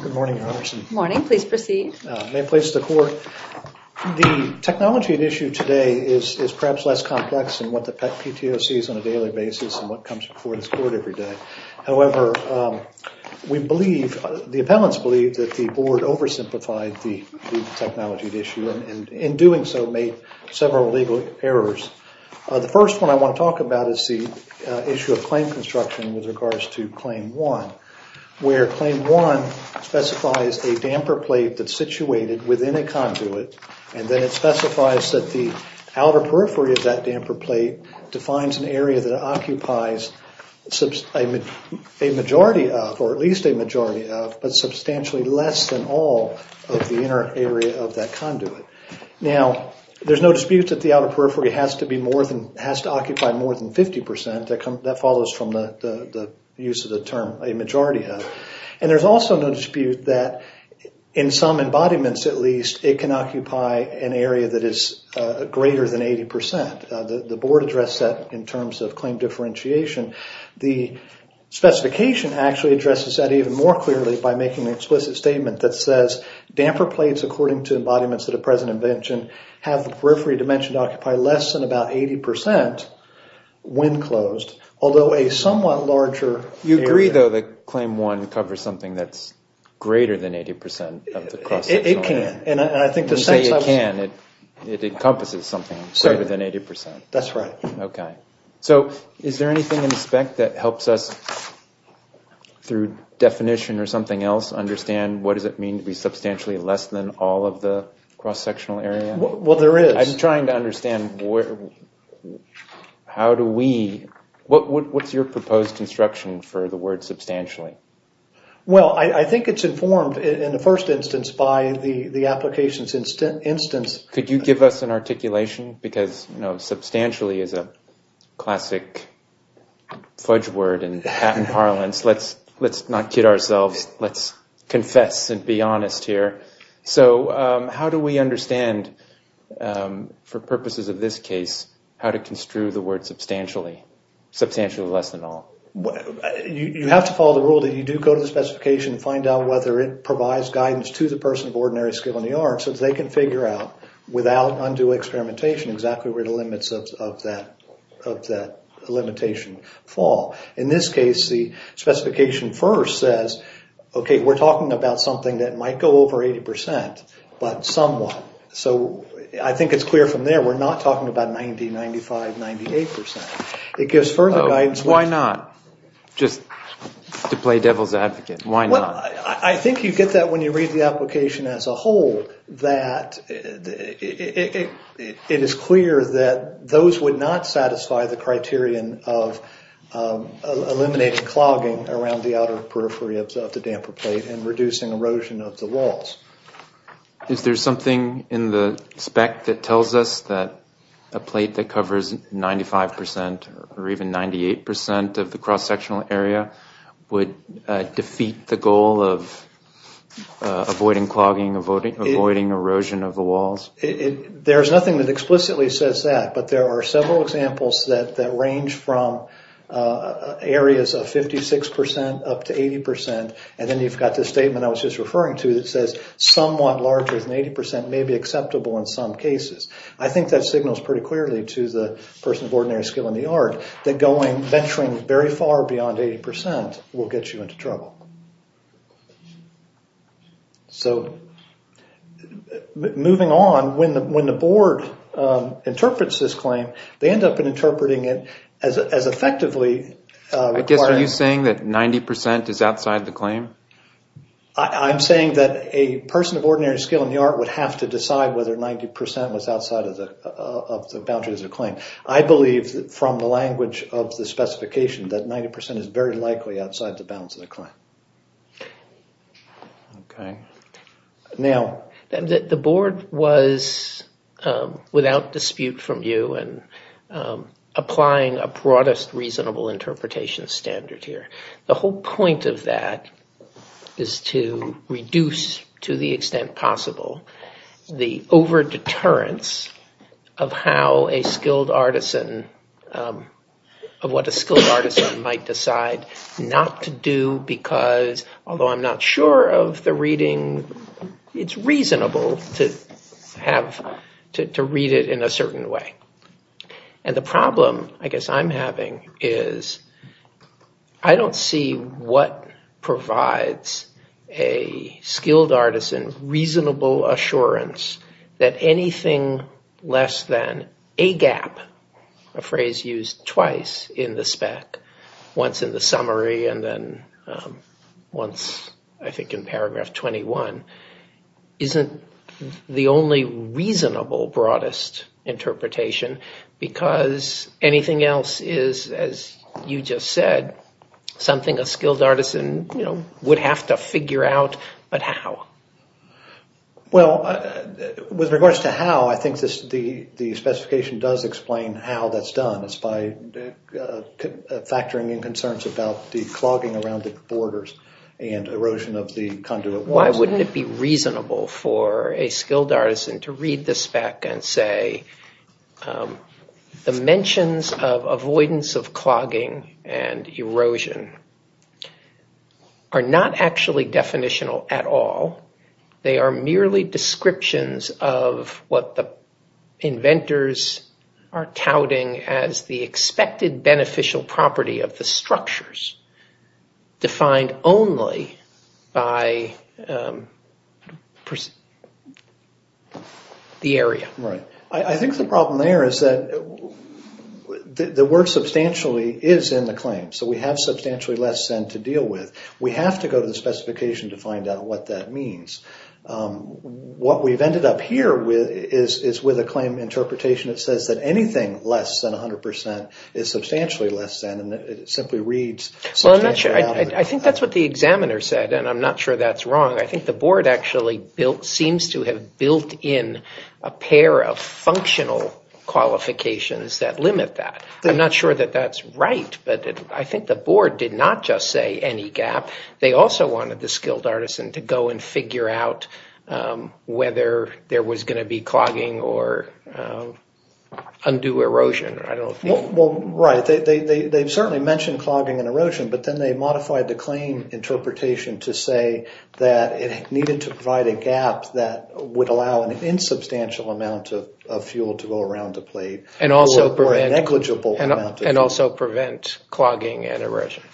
Good morning, Your Honor. Good morning, please proceed. May it please the court. The technology at issue today is perhaps less complex than what the PTO sees on a daily basis and what comes before this court every day. However, we believe, the appellants believe, that the board oversimplified the technology at issue and in doing so made several legal errors. The first one I want to talk about is the issue of Claim 1, where Claim 1 specifies a damper plate that's situated within a conduit and then it specifies that the outer periphery of that damper plate defines an area that occupies a majority of, or at least a majority of, but substantially less than all of the inner area of that conduit. Now, there's no dispute that the outer periphery has to be more than, has to occupy more than 50 percent. That follows from the use of the term a majority of, and there's also no dispute that in some embodiments, at least, it can occupy an area that is greater than 80 percent. The board addressed that in terms of claim differentiation. The specification actually addresses that even more clearly by making the explicit statement that says damper plates, according to embodiments at a present invention, have the periphery dimension to occupy less than about 80 percent when closed, although a somewhat larger area... You agree, though, that Claim 1 covers something that's greater than 80 percent of the cross-sectional area? It can, and I think the sense I was... You say it can. It encompasses something greater than 80 percent. That's right. Okay. So, is there anything in the spec that helps us, through definition or something else, understand what does it mean to be substantially less than all of the How do we... What's your proposed construction for the word substantially? Well, I think it's informed, in the first instance, by the application's instant instance. Could you give us an articulation? Because, you know, substantially is a classic fudge word in patent parlance. Let's not kid ourselves. Let's confess and be honest here. So, how do we understand, for this case, how to construe the word substantially less than all? You have to follow the rule that you do go to the specification and find out whether it provides guidance to the person of ordinary skill in the art so they can figure out, without undue experimentation, exactly where the limits of that limitation fall. In this case, the specification first says, okay, we're talking about something that might go over 80 percent, but somewhat. So, I think it's clear from there we're not talking about 90, 95, 98 percent. It gives further guidance... Why not? Just to play devil's advocate. Why not? I think you get that when you read the application as a whole, that it is clear that those would not satisfy the criterion of eliminating clogging around the outer periphery of the damper plate and reducing erosion of the walls. Is there something in the spec that tells us that a plate that covers 95 percent or even 98 percent of the cross-sectional area would defeat the goal of avoiding clogging, avoiding erosion of the walls? There's nothing that explicitly says that, but there are several examples that range from areas of 56 percent up to 80 percent, and then you've got this statement I was just referring to that somewhat larger than 80 percent may be acceptable in some cases. I think that signals pretty clearly to the person of ordinary skill in the art that venturing very far beyond 80 percent will get you into trouble. So, moving on, when the board interprets this claim, they end up interpreting it as effectively... I guess are you saying that 90 percent is outside the claim? I'm saying that a person of ordinary skill in the art would have to decide whether 90 percent was outside of the boundaries of the claim. I believe from the language of the specification that 90 percent is very likely outside the bounds of the claim. Now... The board was, without dispute from you, applying a broadest reasonable interpretation standard here. The whole point of that is to reduce, to the extent possible, the over-deterrence of how a skilled artisan... of what a skilled artisan might decide not to do because, although I'm not sure of the reading, it's reasonable to have... to read it in a certain way. And the problem, I am having, is I don't see what provides a skilled artisan reasonable assurance that anything less than a gap, a phrase used twice in the spec, once in the summary and then once, I think, in paragraph 21, isn't the only reasonable broadest interpretation because anything else is, as you just said, something a skilled artisan, you know, would have to figure out. But how? Well, with regards to how, I think the specification does explain how that's done. It's by factoring in concerns about the clogging around the borders and erosion of the conduit. Why wouldn't it be reasonable for a skilled artisan to read the spec and say, the mentions of avoidance of clogging and erosion are not actually definitional at all. They are merely descriptions of what the inventors are touting as the expected beneficial property of the structures defined only by the area. Right. I think the problem there is that the work substantially is in the claim. So we have substantially less than to deal with. We have to go to the specification to find out what that means. What we've ended up here with is with a claim interpretation that says that anything less than a I think that's what the examiner said and I'm not sure that's wrong. I think the board actually built, seems to have built in a pair of functional qualifications that limit that. I'm not sure that that's right, but I think the board did not just say any gap. They also wanted the skilled artisan to go and figure out whether there was going to be clogging or undue erosion. I don't know. Well, right. They've certainly mentioned clogging and erosion, but then they modified the claim interpretation to say that it needed to provide a gap that would allow an insubstantial amount of fuel to go around the plate and also prevent negligible amount. And also prevent clogging and erosion.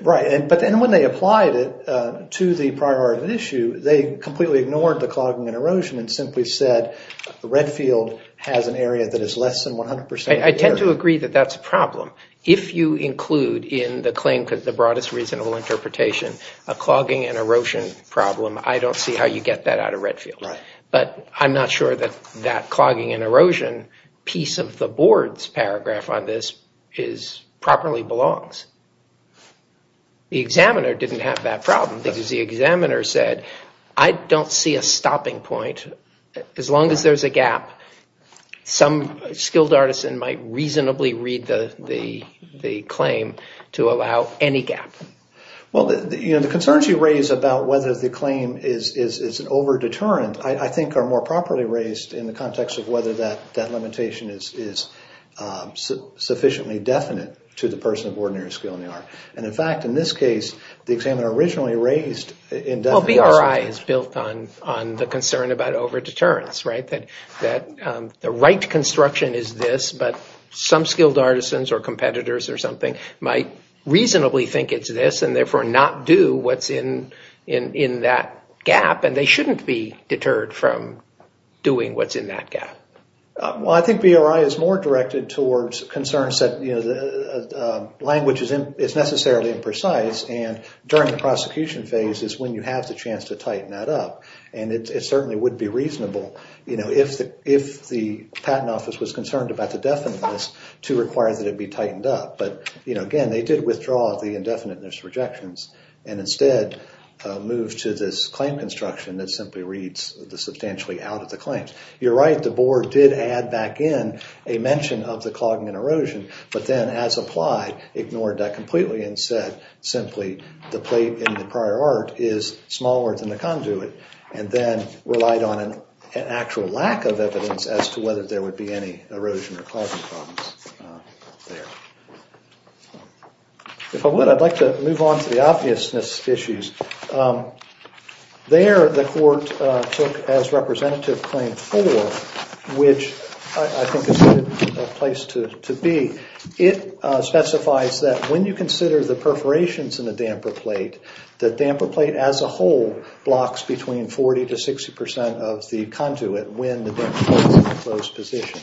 Right. But then when they applied it to the priority issue, they completely ignored the clogging and erosion and simply said the Redfield has an area that is less than 100 percent. I tend to agree that that's a problem. If you include in the claim, because the broadest reasonable interpretation, a clogging and erosion problem, I don't see how you get that out of Redfield. Right. But I'm not sure that that clogging and erosion piece of the board's paragraph on this is properly belongs. The examiner didn't have that problem because the examiner said I don't see a stopping point. As long as there's a gap, some skilled artisan might reasonably read the claim to allow any gap. Well, the concerns you raise about whether the claim is an over deterrent, I think are more properly raised in the context of whether that limitation is sufficiently definite to the person of ordinary skill in the art. And in fact, in this case, the examiner originally raised indefinitely. Well, BRI is built on the concern about over deterrence, right? That the right construction is this, but some skilled artisans or competitors or something might reasonably think it's this and therefore not do what's in that gap. And they shouldn't be deterred from doing what's in that gap. Well, I think BRI is more directed towards concerns that the language is necessarily imprecise and during the prosecution phase is when you have the chance to tighten that up. And it certainly would be reasonable, you know, if the if the patent office was concerned about the definiteness to require that it be tightened up. But, you know, again, they did withdraw the indefiniteness rejections and instead move to this claim construction that simply reads the substantially out of the claims. You're right. The board did add back in a mention of the clogging and erosion, but then as applied, ignored that completely and said simply the plate in the prior art is smaller than the conduit and then relied on an actual lack of evidence as to whether there would be any erosion or clogging problems there. If I would, I'd like to move on to the obviousness issues. There the court took as representative claim four, which I think is a good place to be. It specifies that when you consider the perforations in a damper plate, the damper plate as a whole blocks between 40 to 60 percent of the conduit when the damper plate is in a closed position.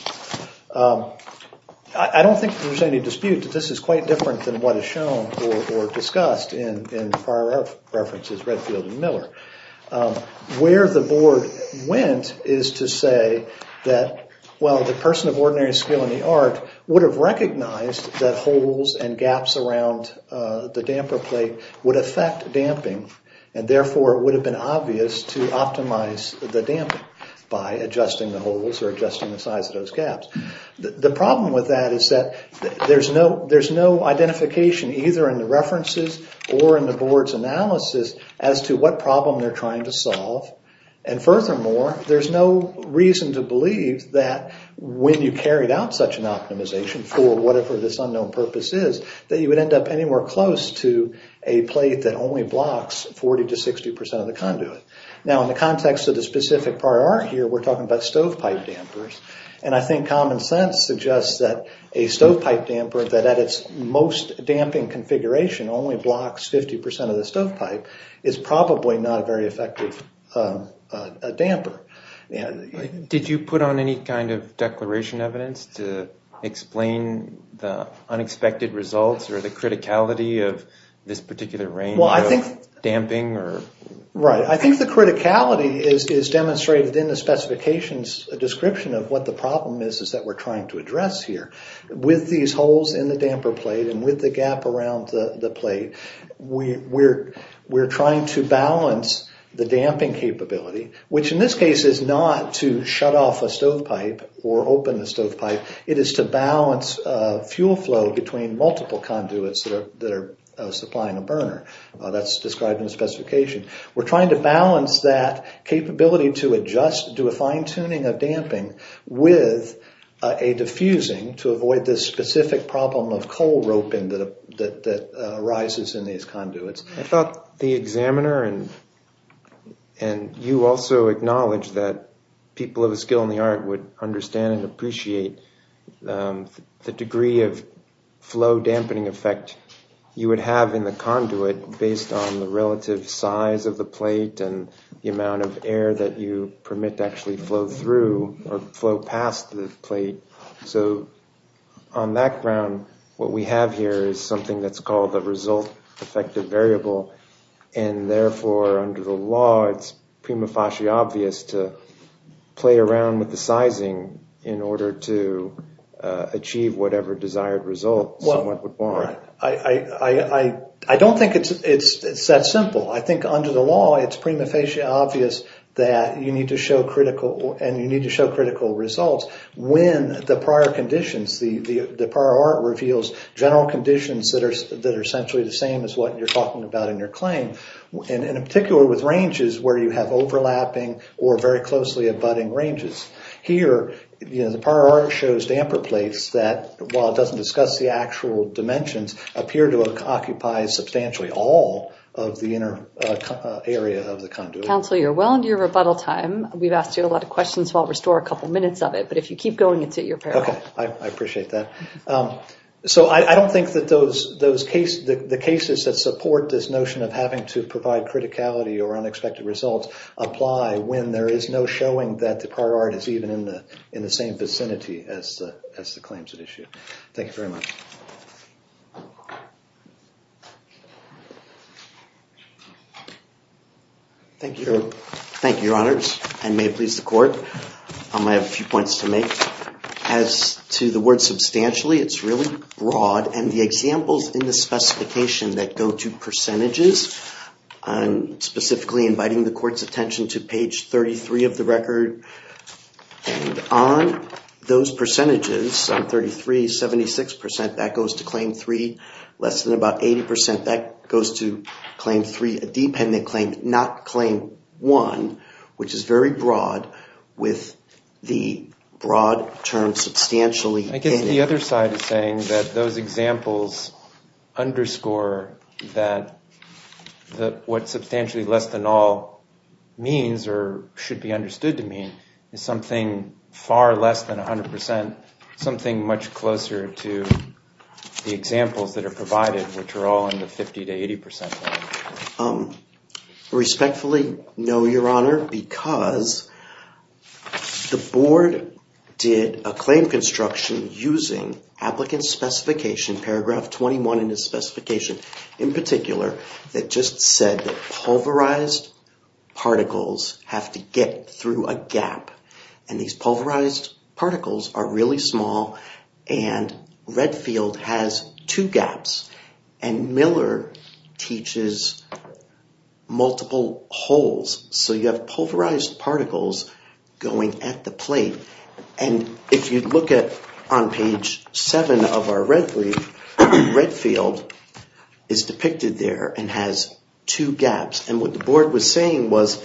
I don't think there's any dispute that this is quite different than what is shown or discussed in prior art references, Redfield and Miller. Where the board went is to say that, well, the person of ordinary skill in the art would have recognized that holes and gaps around the damper plate would affect damping and therefore it would have been obvious to optimize the damping by adjusting the holes or adjusting the size of those gaps. The problem with that is that there's no identification either in the references or in the board's analysis as to what problem they're trying to solve. And furthermore, there's no reason to for whatever this unknown purpose is that you would end up anywhere close to a plate that only blocks 40 to 60 percent of the conduit. Now in the context of the specific prior art here, we're talking about stovepipe dampers. And I think common sense suggests that a stovepipe damper that at its most damping configuration only blocks 50 percent of the stovepipe is probably not a very effective damper. Did you put on any kind of declaration evidence to explain the unexpected results or the criticality of this particular range of damping? Right. I think the criticality is demonstrated in the specifications description of what the problem is that we're trying to address here. With these holes in the damper plate and with the gap around the plate, we're trying to balance the damping capability, which in this case is not to shut off a stovepipe or open the stovepipe. It is to balance fuel flow between multiple conduits that are supplying a burner. That's described in the specification. We're trying to balance that capability to adjust, do a fine-tuning of damping with a diffusing to avoid this specific problem of coal roping that arises in these conduits. I thought the examiner and you also acknowledged that people of a skill in the art would understand and appreciate the degree of flow dampening effect you would have in the conduit based on the relative size of the plate and the amount of air that you permit to actually flow through or flow past the plate. So on that ground, what we have here is something that's called the result effective variable. Therefore, under the law, it's prima facie obvious to play around with the sizing in order to achieve whatever desired result someone would want. I don't think it's that simple. I think under the law, it's prima facie obvious that you need to show critical results when the prior art reveals general conditions that are essentially the same as what you're talking about in your claim, and in particular with ranges where you have overlapping or very closely abutting ranges. Here, the prior art shows damper plates that, while it doesn't discuss the actual dimensions, appear to occupy substantially all of the inner area of the conduit. Counsel, you're well into your rebuttal time. We've asked you a lot of questions, so I'll restore a couple minutes of it, but if you keep going, it's at your peril. I appreciate that. So I don't think that the cases that support this notion of having to provide criticality or unexpected results apply when there is no showing that the prior art is even in the same vicinity as the claims at issue. Thank you very much. Thank you, Your Honors, and may it please the Court. I have a few points to make. As to the word substantially, it's really broad, and the examples in the specification that go to percentages, specifically inviting the Court's attention to page 33 of the record, and on those percentages, on 33, 76 percent, that goes to Claim 3. Less than about 80 percent, that goes to substantially. I guess the other side is saying that those examples underscore that what substantially less than all means, or should be understood to mean, is something far less than 100 percent, something much closer to the examples that are provided, which are all in the 50 to 80 percent. I respectfully no, Your Honor, because the Board did a claim construction using Applicant Specification, paragraph 21 in the specification, in particular, that just said that pulverized particles have to get through a gap, and these pulverized particles are really and Redfield has two gaps, and Miller teaches multiple holes, so you have pulverized particles going at the plate. If you look at, on page 7 of our Redfield, Redfield is depicted there and has two gaps, and what the Board was saying was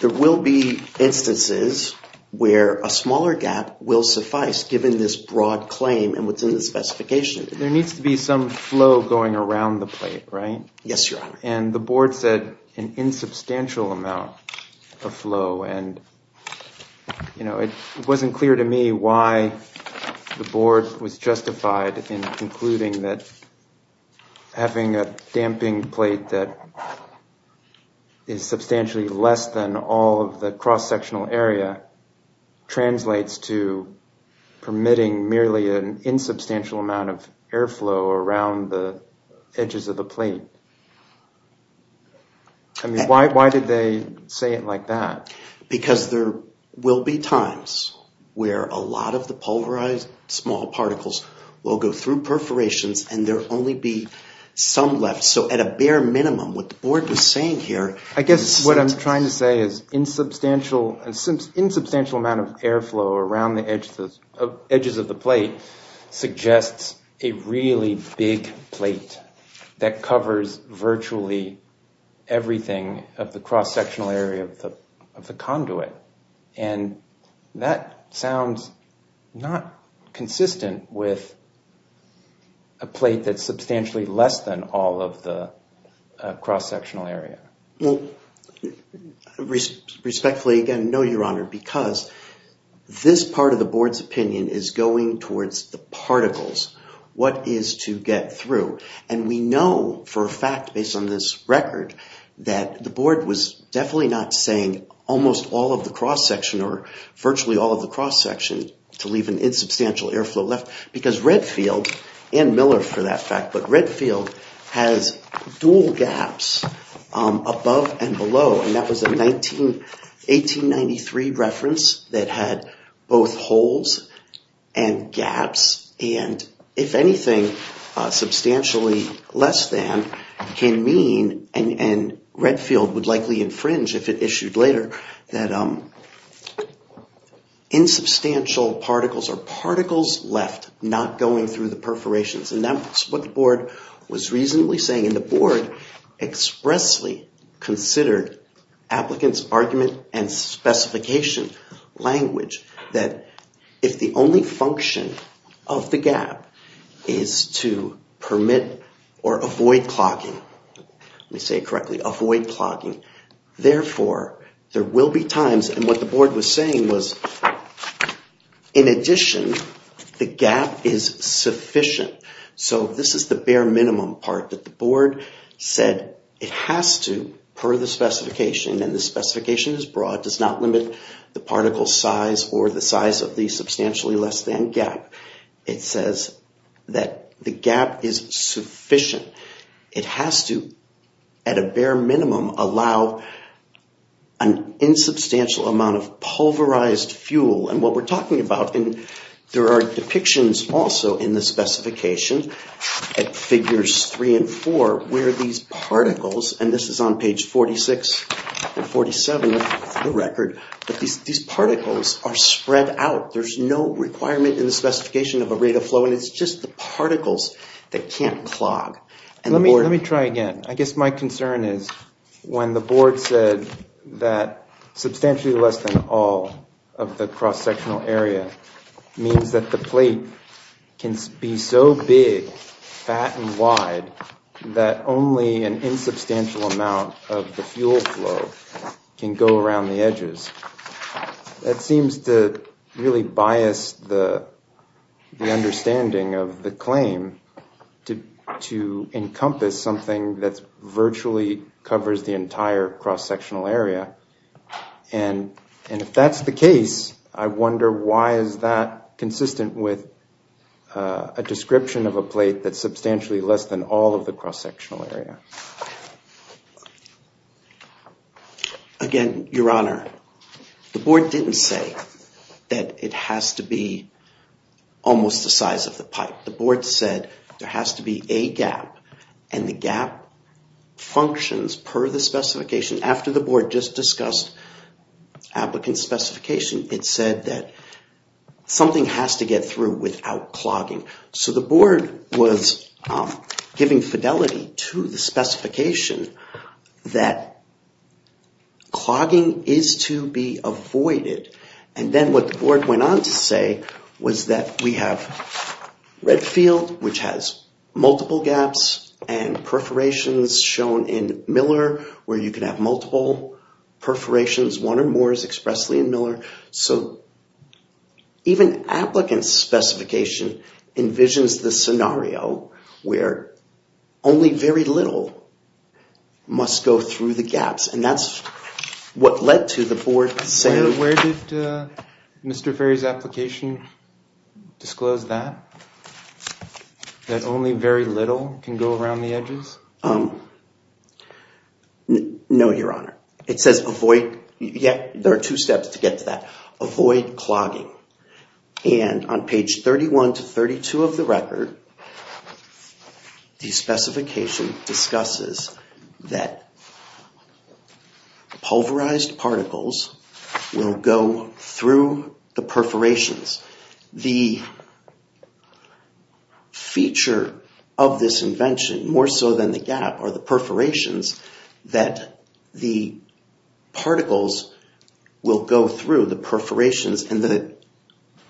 there will be instances where a smaller gap will suffice, given this broad claim and what's in the specification. There needs to be some flow going around the plate, right? Yes, Your Honor. And the Board said an insubstantial amount of flow, and you know, it wasn't clear to me why the Board was justified in concluding that having a damping plate that is substantially less than all of the cross-sectional area translates to permitting merely an insubstantial amount of airflow around the edges of the plate. I mean, why did they say it like that? Because there will be times where a lot of the some left, so at a bare minimum what the Board was saying here... I guess what I'm trying to say is insubstantial amount of airflow around the edges of the plate suggests a really big plate that covers virtually everything of the cross-sectional area of the plate. Well, respectfully, again, no, Your Honor, because this part of the Board's opinion is going towards the particles, what is to get through. And we know for a fact, based on this record, that the Board was definitely not saying almost all of the cross-section or virtually all of the cross-section to leave an insubstantial airflow left, because Redfield, and Miller for that fact, Redfield has dual gaps above and below, and that was a 1893 reference that had both holes and gaps, and if anything, substantially less than can mean, and Redfield would likely infringe if it issued later, that insubstantial particles or particles left not going through the perforations, and that's what the Board was reasonably saying, and the Board expressly considered applicants' argument and specification language that if the only function of the gap is to permit or avoid clocking, let me say it correctly, avoid clocking, therefore, there will be times, and what the Board was saying was, in addition, the gap is sufficient. So this is the bare minimum part that the Board said it has to, per the specification, and the specification is broad, does not limit the particle size or the size of the substantially less than gap, it says that the gap is sufficient. It has to, at a bare minimum, allow an insubstantial amount of pulverized fuel, and what we're talking about, and there are depictions also in the specification at figures 3 and 4 where these particles, and this is on page 46 and 47 of the record, but these particles are spread out, there's no requirement in the specification of a rate of Let me try again. I guess my concern is when the Board said that substantially less than all of the cross-sectional area means that the plate can be so big, fat, and wide, that only an insubstantial amount of the fuel flow can go around the edges, that seems to really bias the understanding of the claim to encompass something that virtually covers the entire cross-sectional area, and if that's the case, I wonder why is that consistent with a description of a plate that's substantially less than all of the cross-sectional area? Again, Your Honor, the Board didn't say that it has to be almost the size of the pipe. The Board said there has to be a gap, and the gap functions per the specification. After the Board just discussed applicant specification, it said that something has to get through without clogging, so the Board was giving fidelity to the specification that clogging is to be avoided, and then what the Board went on to say was that we have Redfield, which has multiple gaps and perforations shown in Miller, where you can have multiple perforations, one or more expressly in Miller, so even applicant specification envisions the scenario where only very little must go through the gaps, and that's what led to the Board saying... Where did Mr. Ferry's application disclose that, that only very little can go around the edges? No, Your Honor. There are two steps to get to that. Avoid clogging, and on page 31 to 32 of the record, the specification discusses that pulverized particles will go through the perforations. The feature of this invention, more so than the gap, are the perforations that the particles will go through the perforations, and the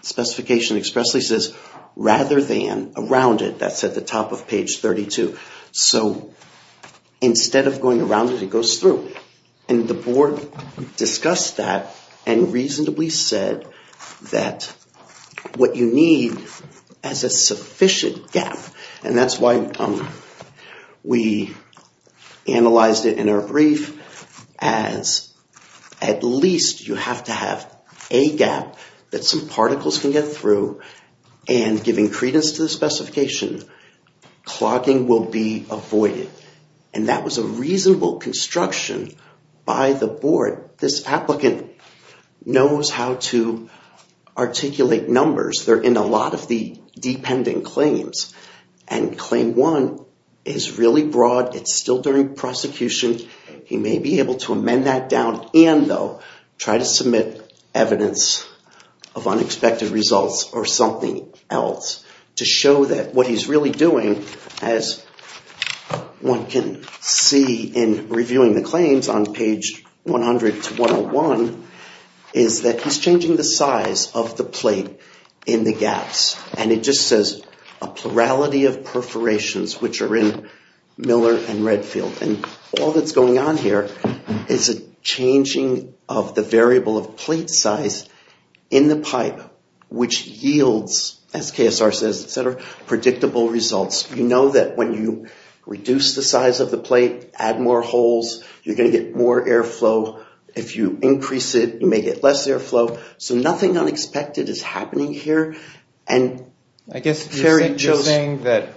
specification expressly says rather than around it. That's at the top of page 32. So instead of going around it, it goes through, and the Board discussed that and reasonably said that what you need is a sufficient gap, and that's why we analyzed it in our brief as at least you have to have a gap that some particles can get through, and giving credence to the specification, clogging will be avoided, and that was a reasonable construction by the Board. This applicant knows how to articulate numbers. They're in a lot of the dependent claims, and claim one is really broad. It's still during prosecution. He may be able to amend that down and though try to submit evidence of unexpected results or something else to show that what he's really doing as one can see in reviewing the claims on page 100-101 is that he's changing the size of the plate in the gaps, and it just says a plurality of perforations which are in Miller and Redfield, and all that's going on here is a changing of the variable of plate size in the pipe which yields, as KSR says, predictable results. You know that when you reduce the size of the plate, add more holes, you're going to get more airflow. If you increase it, you may get less airflow. So nothing unexpected is happening here. And I guess the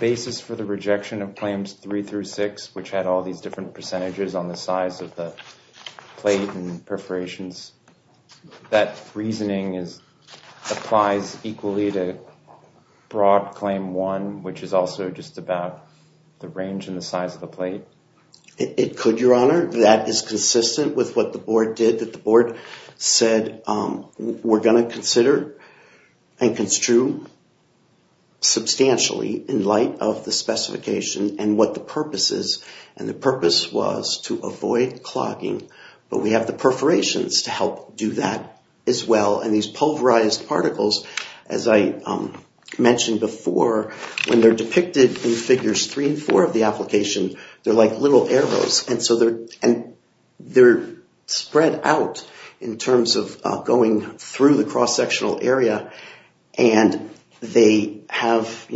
basis for the rejection of claims three through six, which had all these different that reasoning applies equally to broad claim one, which is also just about the range and the size of the plate. It could, your honor. That is consistent with what the Board did. The Board said we're going to consider and construe substantially in light of the specification and what the purpose is. And the purpose was to avoid clogging, but we have the perforations to help do that as well. And these pulverized particles, as I mentioned before, when they're depicted in figures three and four of the application, they're like little arrows. And they're spread out in terms of going through the cross-sectional area, and they have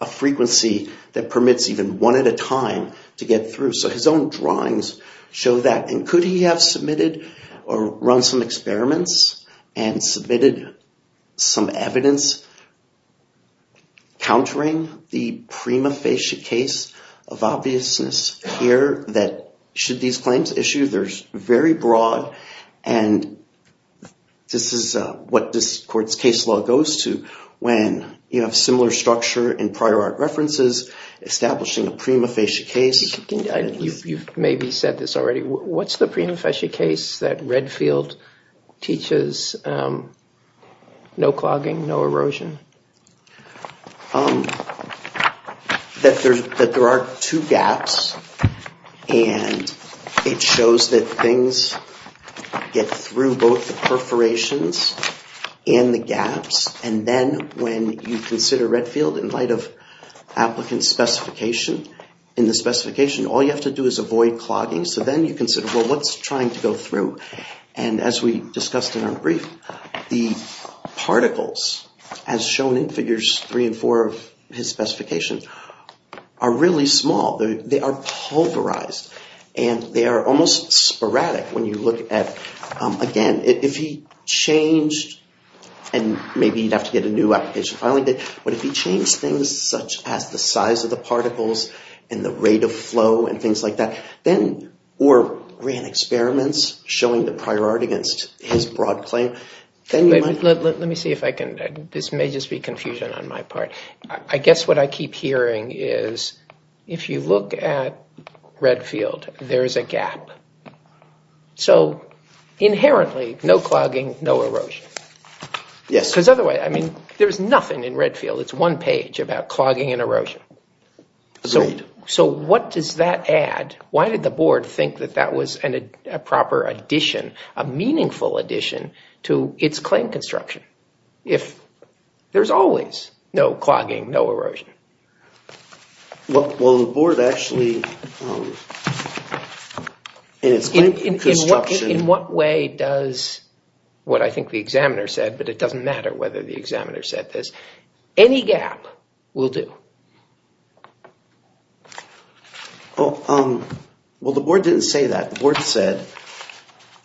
a frequency that permits even one at a time to get through. So his own drawings show that. And could he have or run some experiments and submitted some evidence countering the prima facie case of obviousness here that should these claims issue? They're very broad. And this is what this court's case law goes to when you have similar structure in prior art references establishing a prima facie case. You've maybe said this already. What's the prima facie case that Redfield teaches no clogging, no erosion? That there are two gaps, and it shows that things get through both the perforations and the gaps. And then when you consider Redfield in light of applicant specification, in the specification, all you have to do is avoid clogging. So then you consider, well, what's trying to go through? And as we discussed in our brief, the particles, as shown in figures three and four of his specification, are really small. They are pulverized. And they are almost sporadic when you look at, again, if he changed, and maybe you'd have to get a new application finally, but if he changed things such as the particles and the rate of flow and things like that, or ran experiments showing the prior art against his broad claim, then you might... Let me see if I can... This may just be confusion on my part. I guess what I keep hearing is if you look at Redfield, there is a gap. So inherently, no clogging, no erosion. Yes. Because otherwise, I mean, there's nothing in Redfield. It's one page about clogging and erosion. So what does that add? Why did the board think that that was a proper addition, a meaningful addition to its claim construction if there's always no clogging, no erosion? Well, the board actually... In its claim construction... In what way does what I think the examiner said, but it doesn't matter whether the examiner said this, any gap will do. Well, the board didn't say that. The board said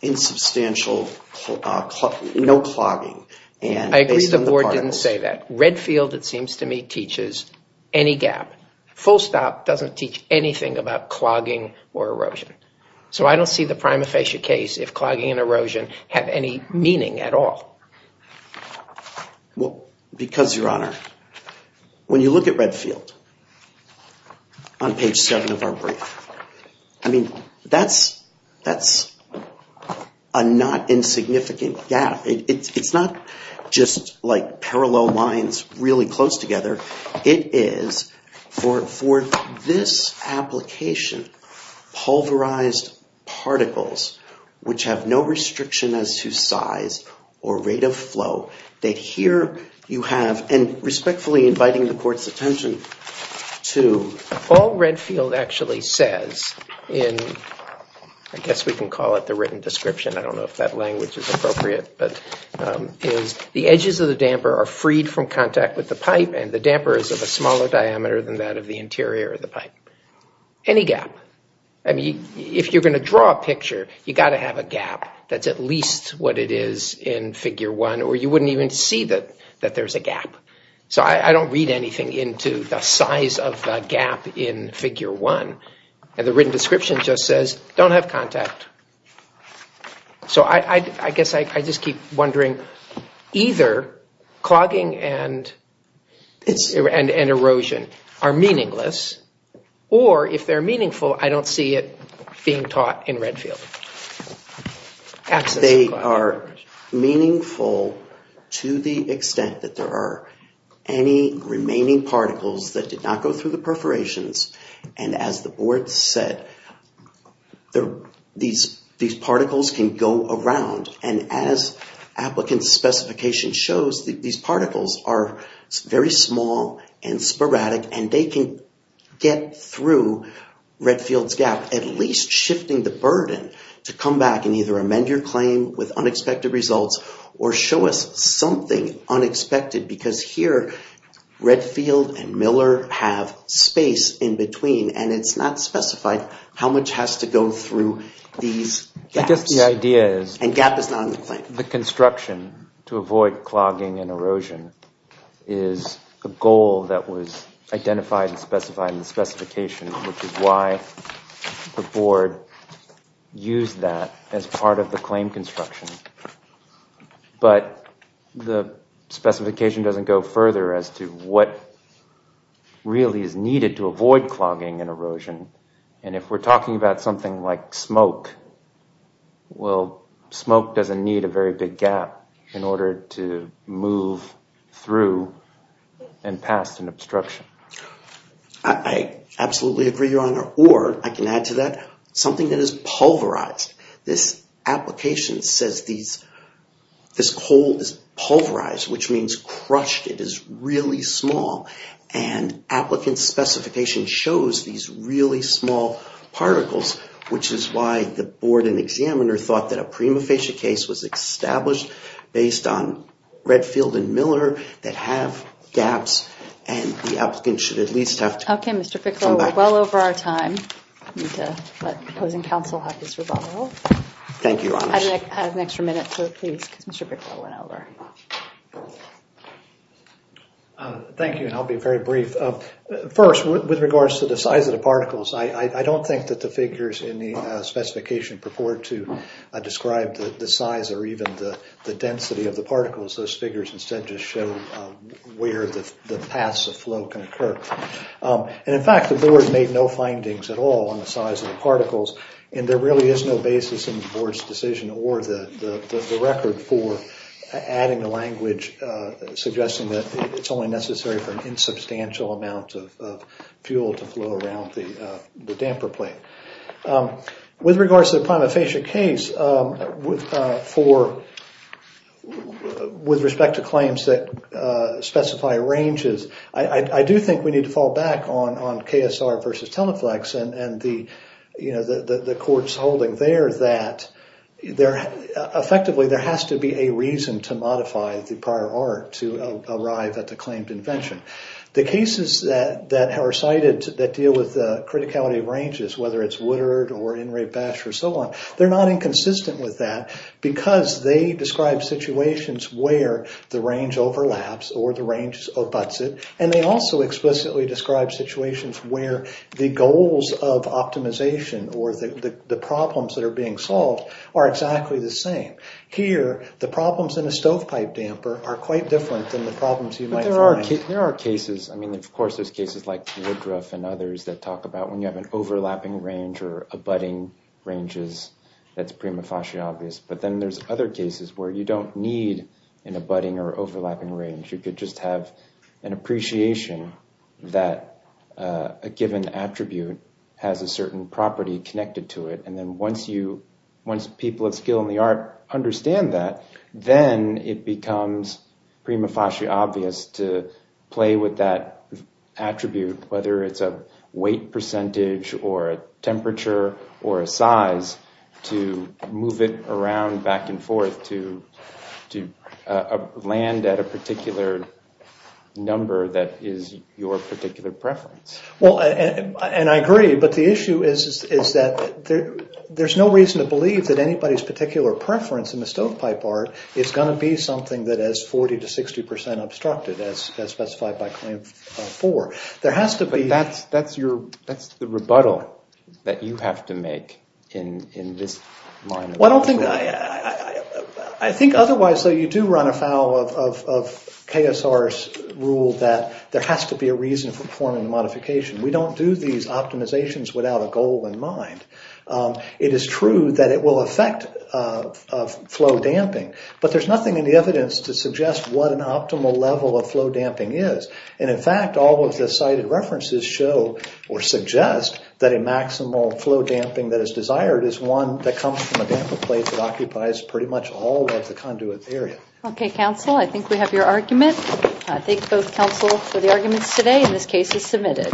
insubstantial, no clogging. I agree the board didn't say that. Redfield, it seems to me, teaches any gap. Full Stop doesn't teach anything about clogging or erosion. So I don't see the prima facie case if clogging and erosion have any meaning at all. Well, because, Your Honor, when you look at Redfield on page seven of our brief, I mean, that's a not insignificant gap. It's not just like parallel lines really close together. It is for this application, pulverized particles which have no restriction as to size or rate of flow that here you have, and respectfully inviting the court's attention to... All Redfield actually says in, I guess we can call it the written description. I don't know if that language is appropriate, but is the edges of the damper are freed from contact with the pipe and the damper is of a smaller diameter than that of the interior of the pipe. Any gap. I mean, if you're going to draw a picture, you got to have a gap that's at least what it is in figure one, or you wouldn't even see that there's a gap. So I don't read anything into the size of the gap in figure one. And the written description just says, don't have contact. So I guess I just keep wondering either clogging and erosion are meaningless, or if they're meaningful, I don't see it being taught in Redfield. They are meaningful to the extent that there are any remaining particles that did not go through the perforations. And as the board said, these particles can go around. And as get through Redfield's gap, at least shifting the burden to come back and either amend your claim with unexpected results or show us something unexpected, because here Redfield and Miller have space in between, and it's not specified how much has to go through these gaps. I guess the idea is... And gap is not in the claim. The construction to avoid clogging and erosion is a goal that was identified and specified in the specification, which is why the board used that as part of the claim construction. But the specification doesn't go further as to what really is needed to avoid clogging and erosion. And if we're talking about something like smoke, well, smoke doesn't need a very big gap in order to move through and past an obstruction. I absolutely agree, Your Honor. Or I can add to that, something that is pulverized. This application says this coal is pulverized, which means crushed. It is really small. And applicant specification shows these really small particles, which is why the board and examiner thought that a prima facie case was established based on Redfield and Miller that have gaps, and the applicant should at least have to... Okay, Mr. Piccolo, we're well over our time. I need to let opposing counsel have this rebuttal. Thank you, Your Honor. I have an extra minute, so please, because Mr. Piccolo went over. Thank you, and I'll be very brief. First, with regards to the size of the particles, I don't think that the figures in the specification purport to describe the size or even the density of the particles. Those figures instead just show where the paths of flow can occur. And in fact, the board made no findings at all on the size of the particles, and there really is no basis in the board's decision or the record for adding the size or adding the language suggesting that it's only necessary for an insubstantial amount of fuel to flow around the damper plate. With regards to the prima facie case, with respect to claims that specify ranges, I do think we need to fall back on KSR versus the prior art to arrive at the claimed invention. The cases that are cited that deal with the criticality of ranges, whether it's Woodard or Enright-Bash or so on, they're not inconsistent with that because they describe situations where the range overlaps or the range abuts it, and they also explicitly describe situations where the goals of optimization or the problems that are being solved are exactly the same. Here, the problems in a stovepipe damper are quite different than the problems you might find. But there are cases, I mean, of course, there's cases like Woodruff and others that talk about when you have an overlapping range or abutting ranges, that's prima facie obvious, but then there's other cases where you don't need an abutting or overlapping range. You could just have an appreciation that a given attribute has a certain property connected to it, and then once people of skill in the art understand that, then it becomes prima facie obvious to play with that attribute, whether it's a weight percentage or a temperature or a size, to move it around back and forth to land at a particular number that is your particular preference. Well, and I agree, but the issue is that there's no reason to believe that anybody's particular preference in the stovepipe art is going to be something that is 40 to 60 percent obstructed, as specified by Claim 4. There has to be... But that's the rebuttal that you have to make in this line of work. I don't think... I think otherwise, though, you do run afoul of KSR's rule that there has to be a reason for performing the modification. We don't do these optimizations without a goal in mind. It is true that it will affect flow damping, but there's nothing in the evidence to suggest what an optimal level of flow damping is, and in fact, all of the cited references show or suggest that a maximal flow damping that is desired is one that comes from a damper plate that occupies pretty much all of the conduit area. Okay, counsel, I think we have your argument. I thank both counsel for the arguments today, and this case is submitted.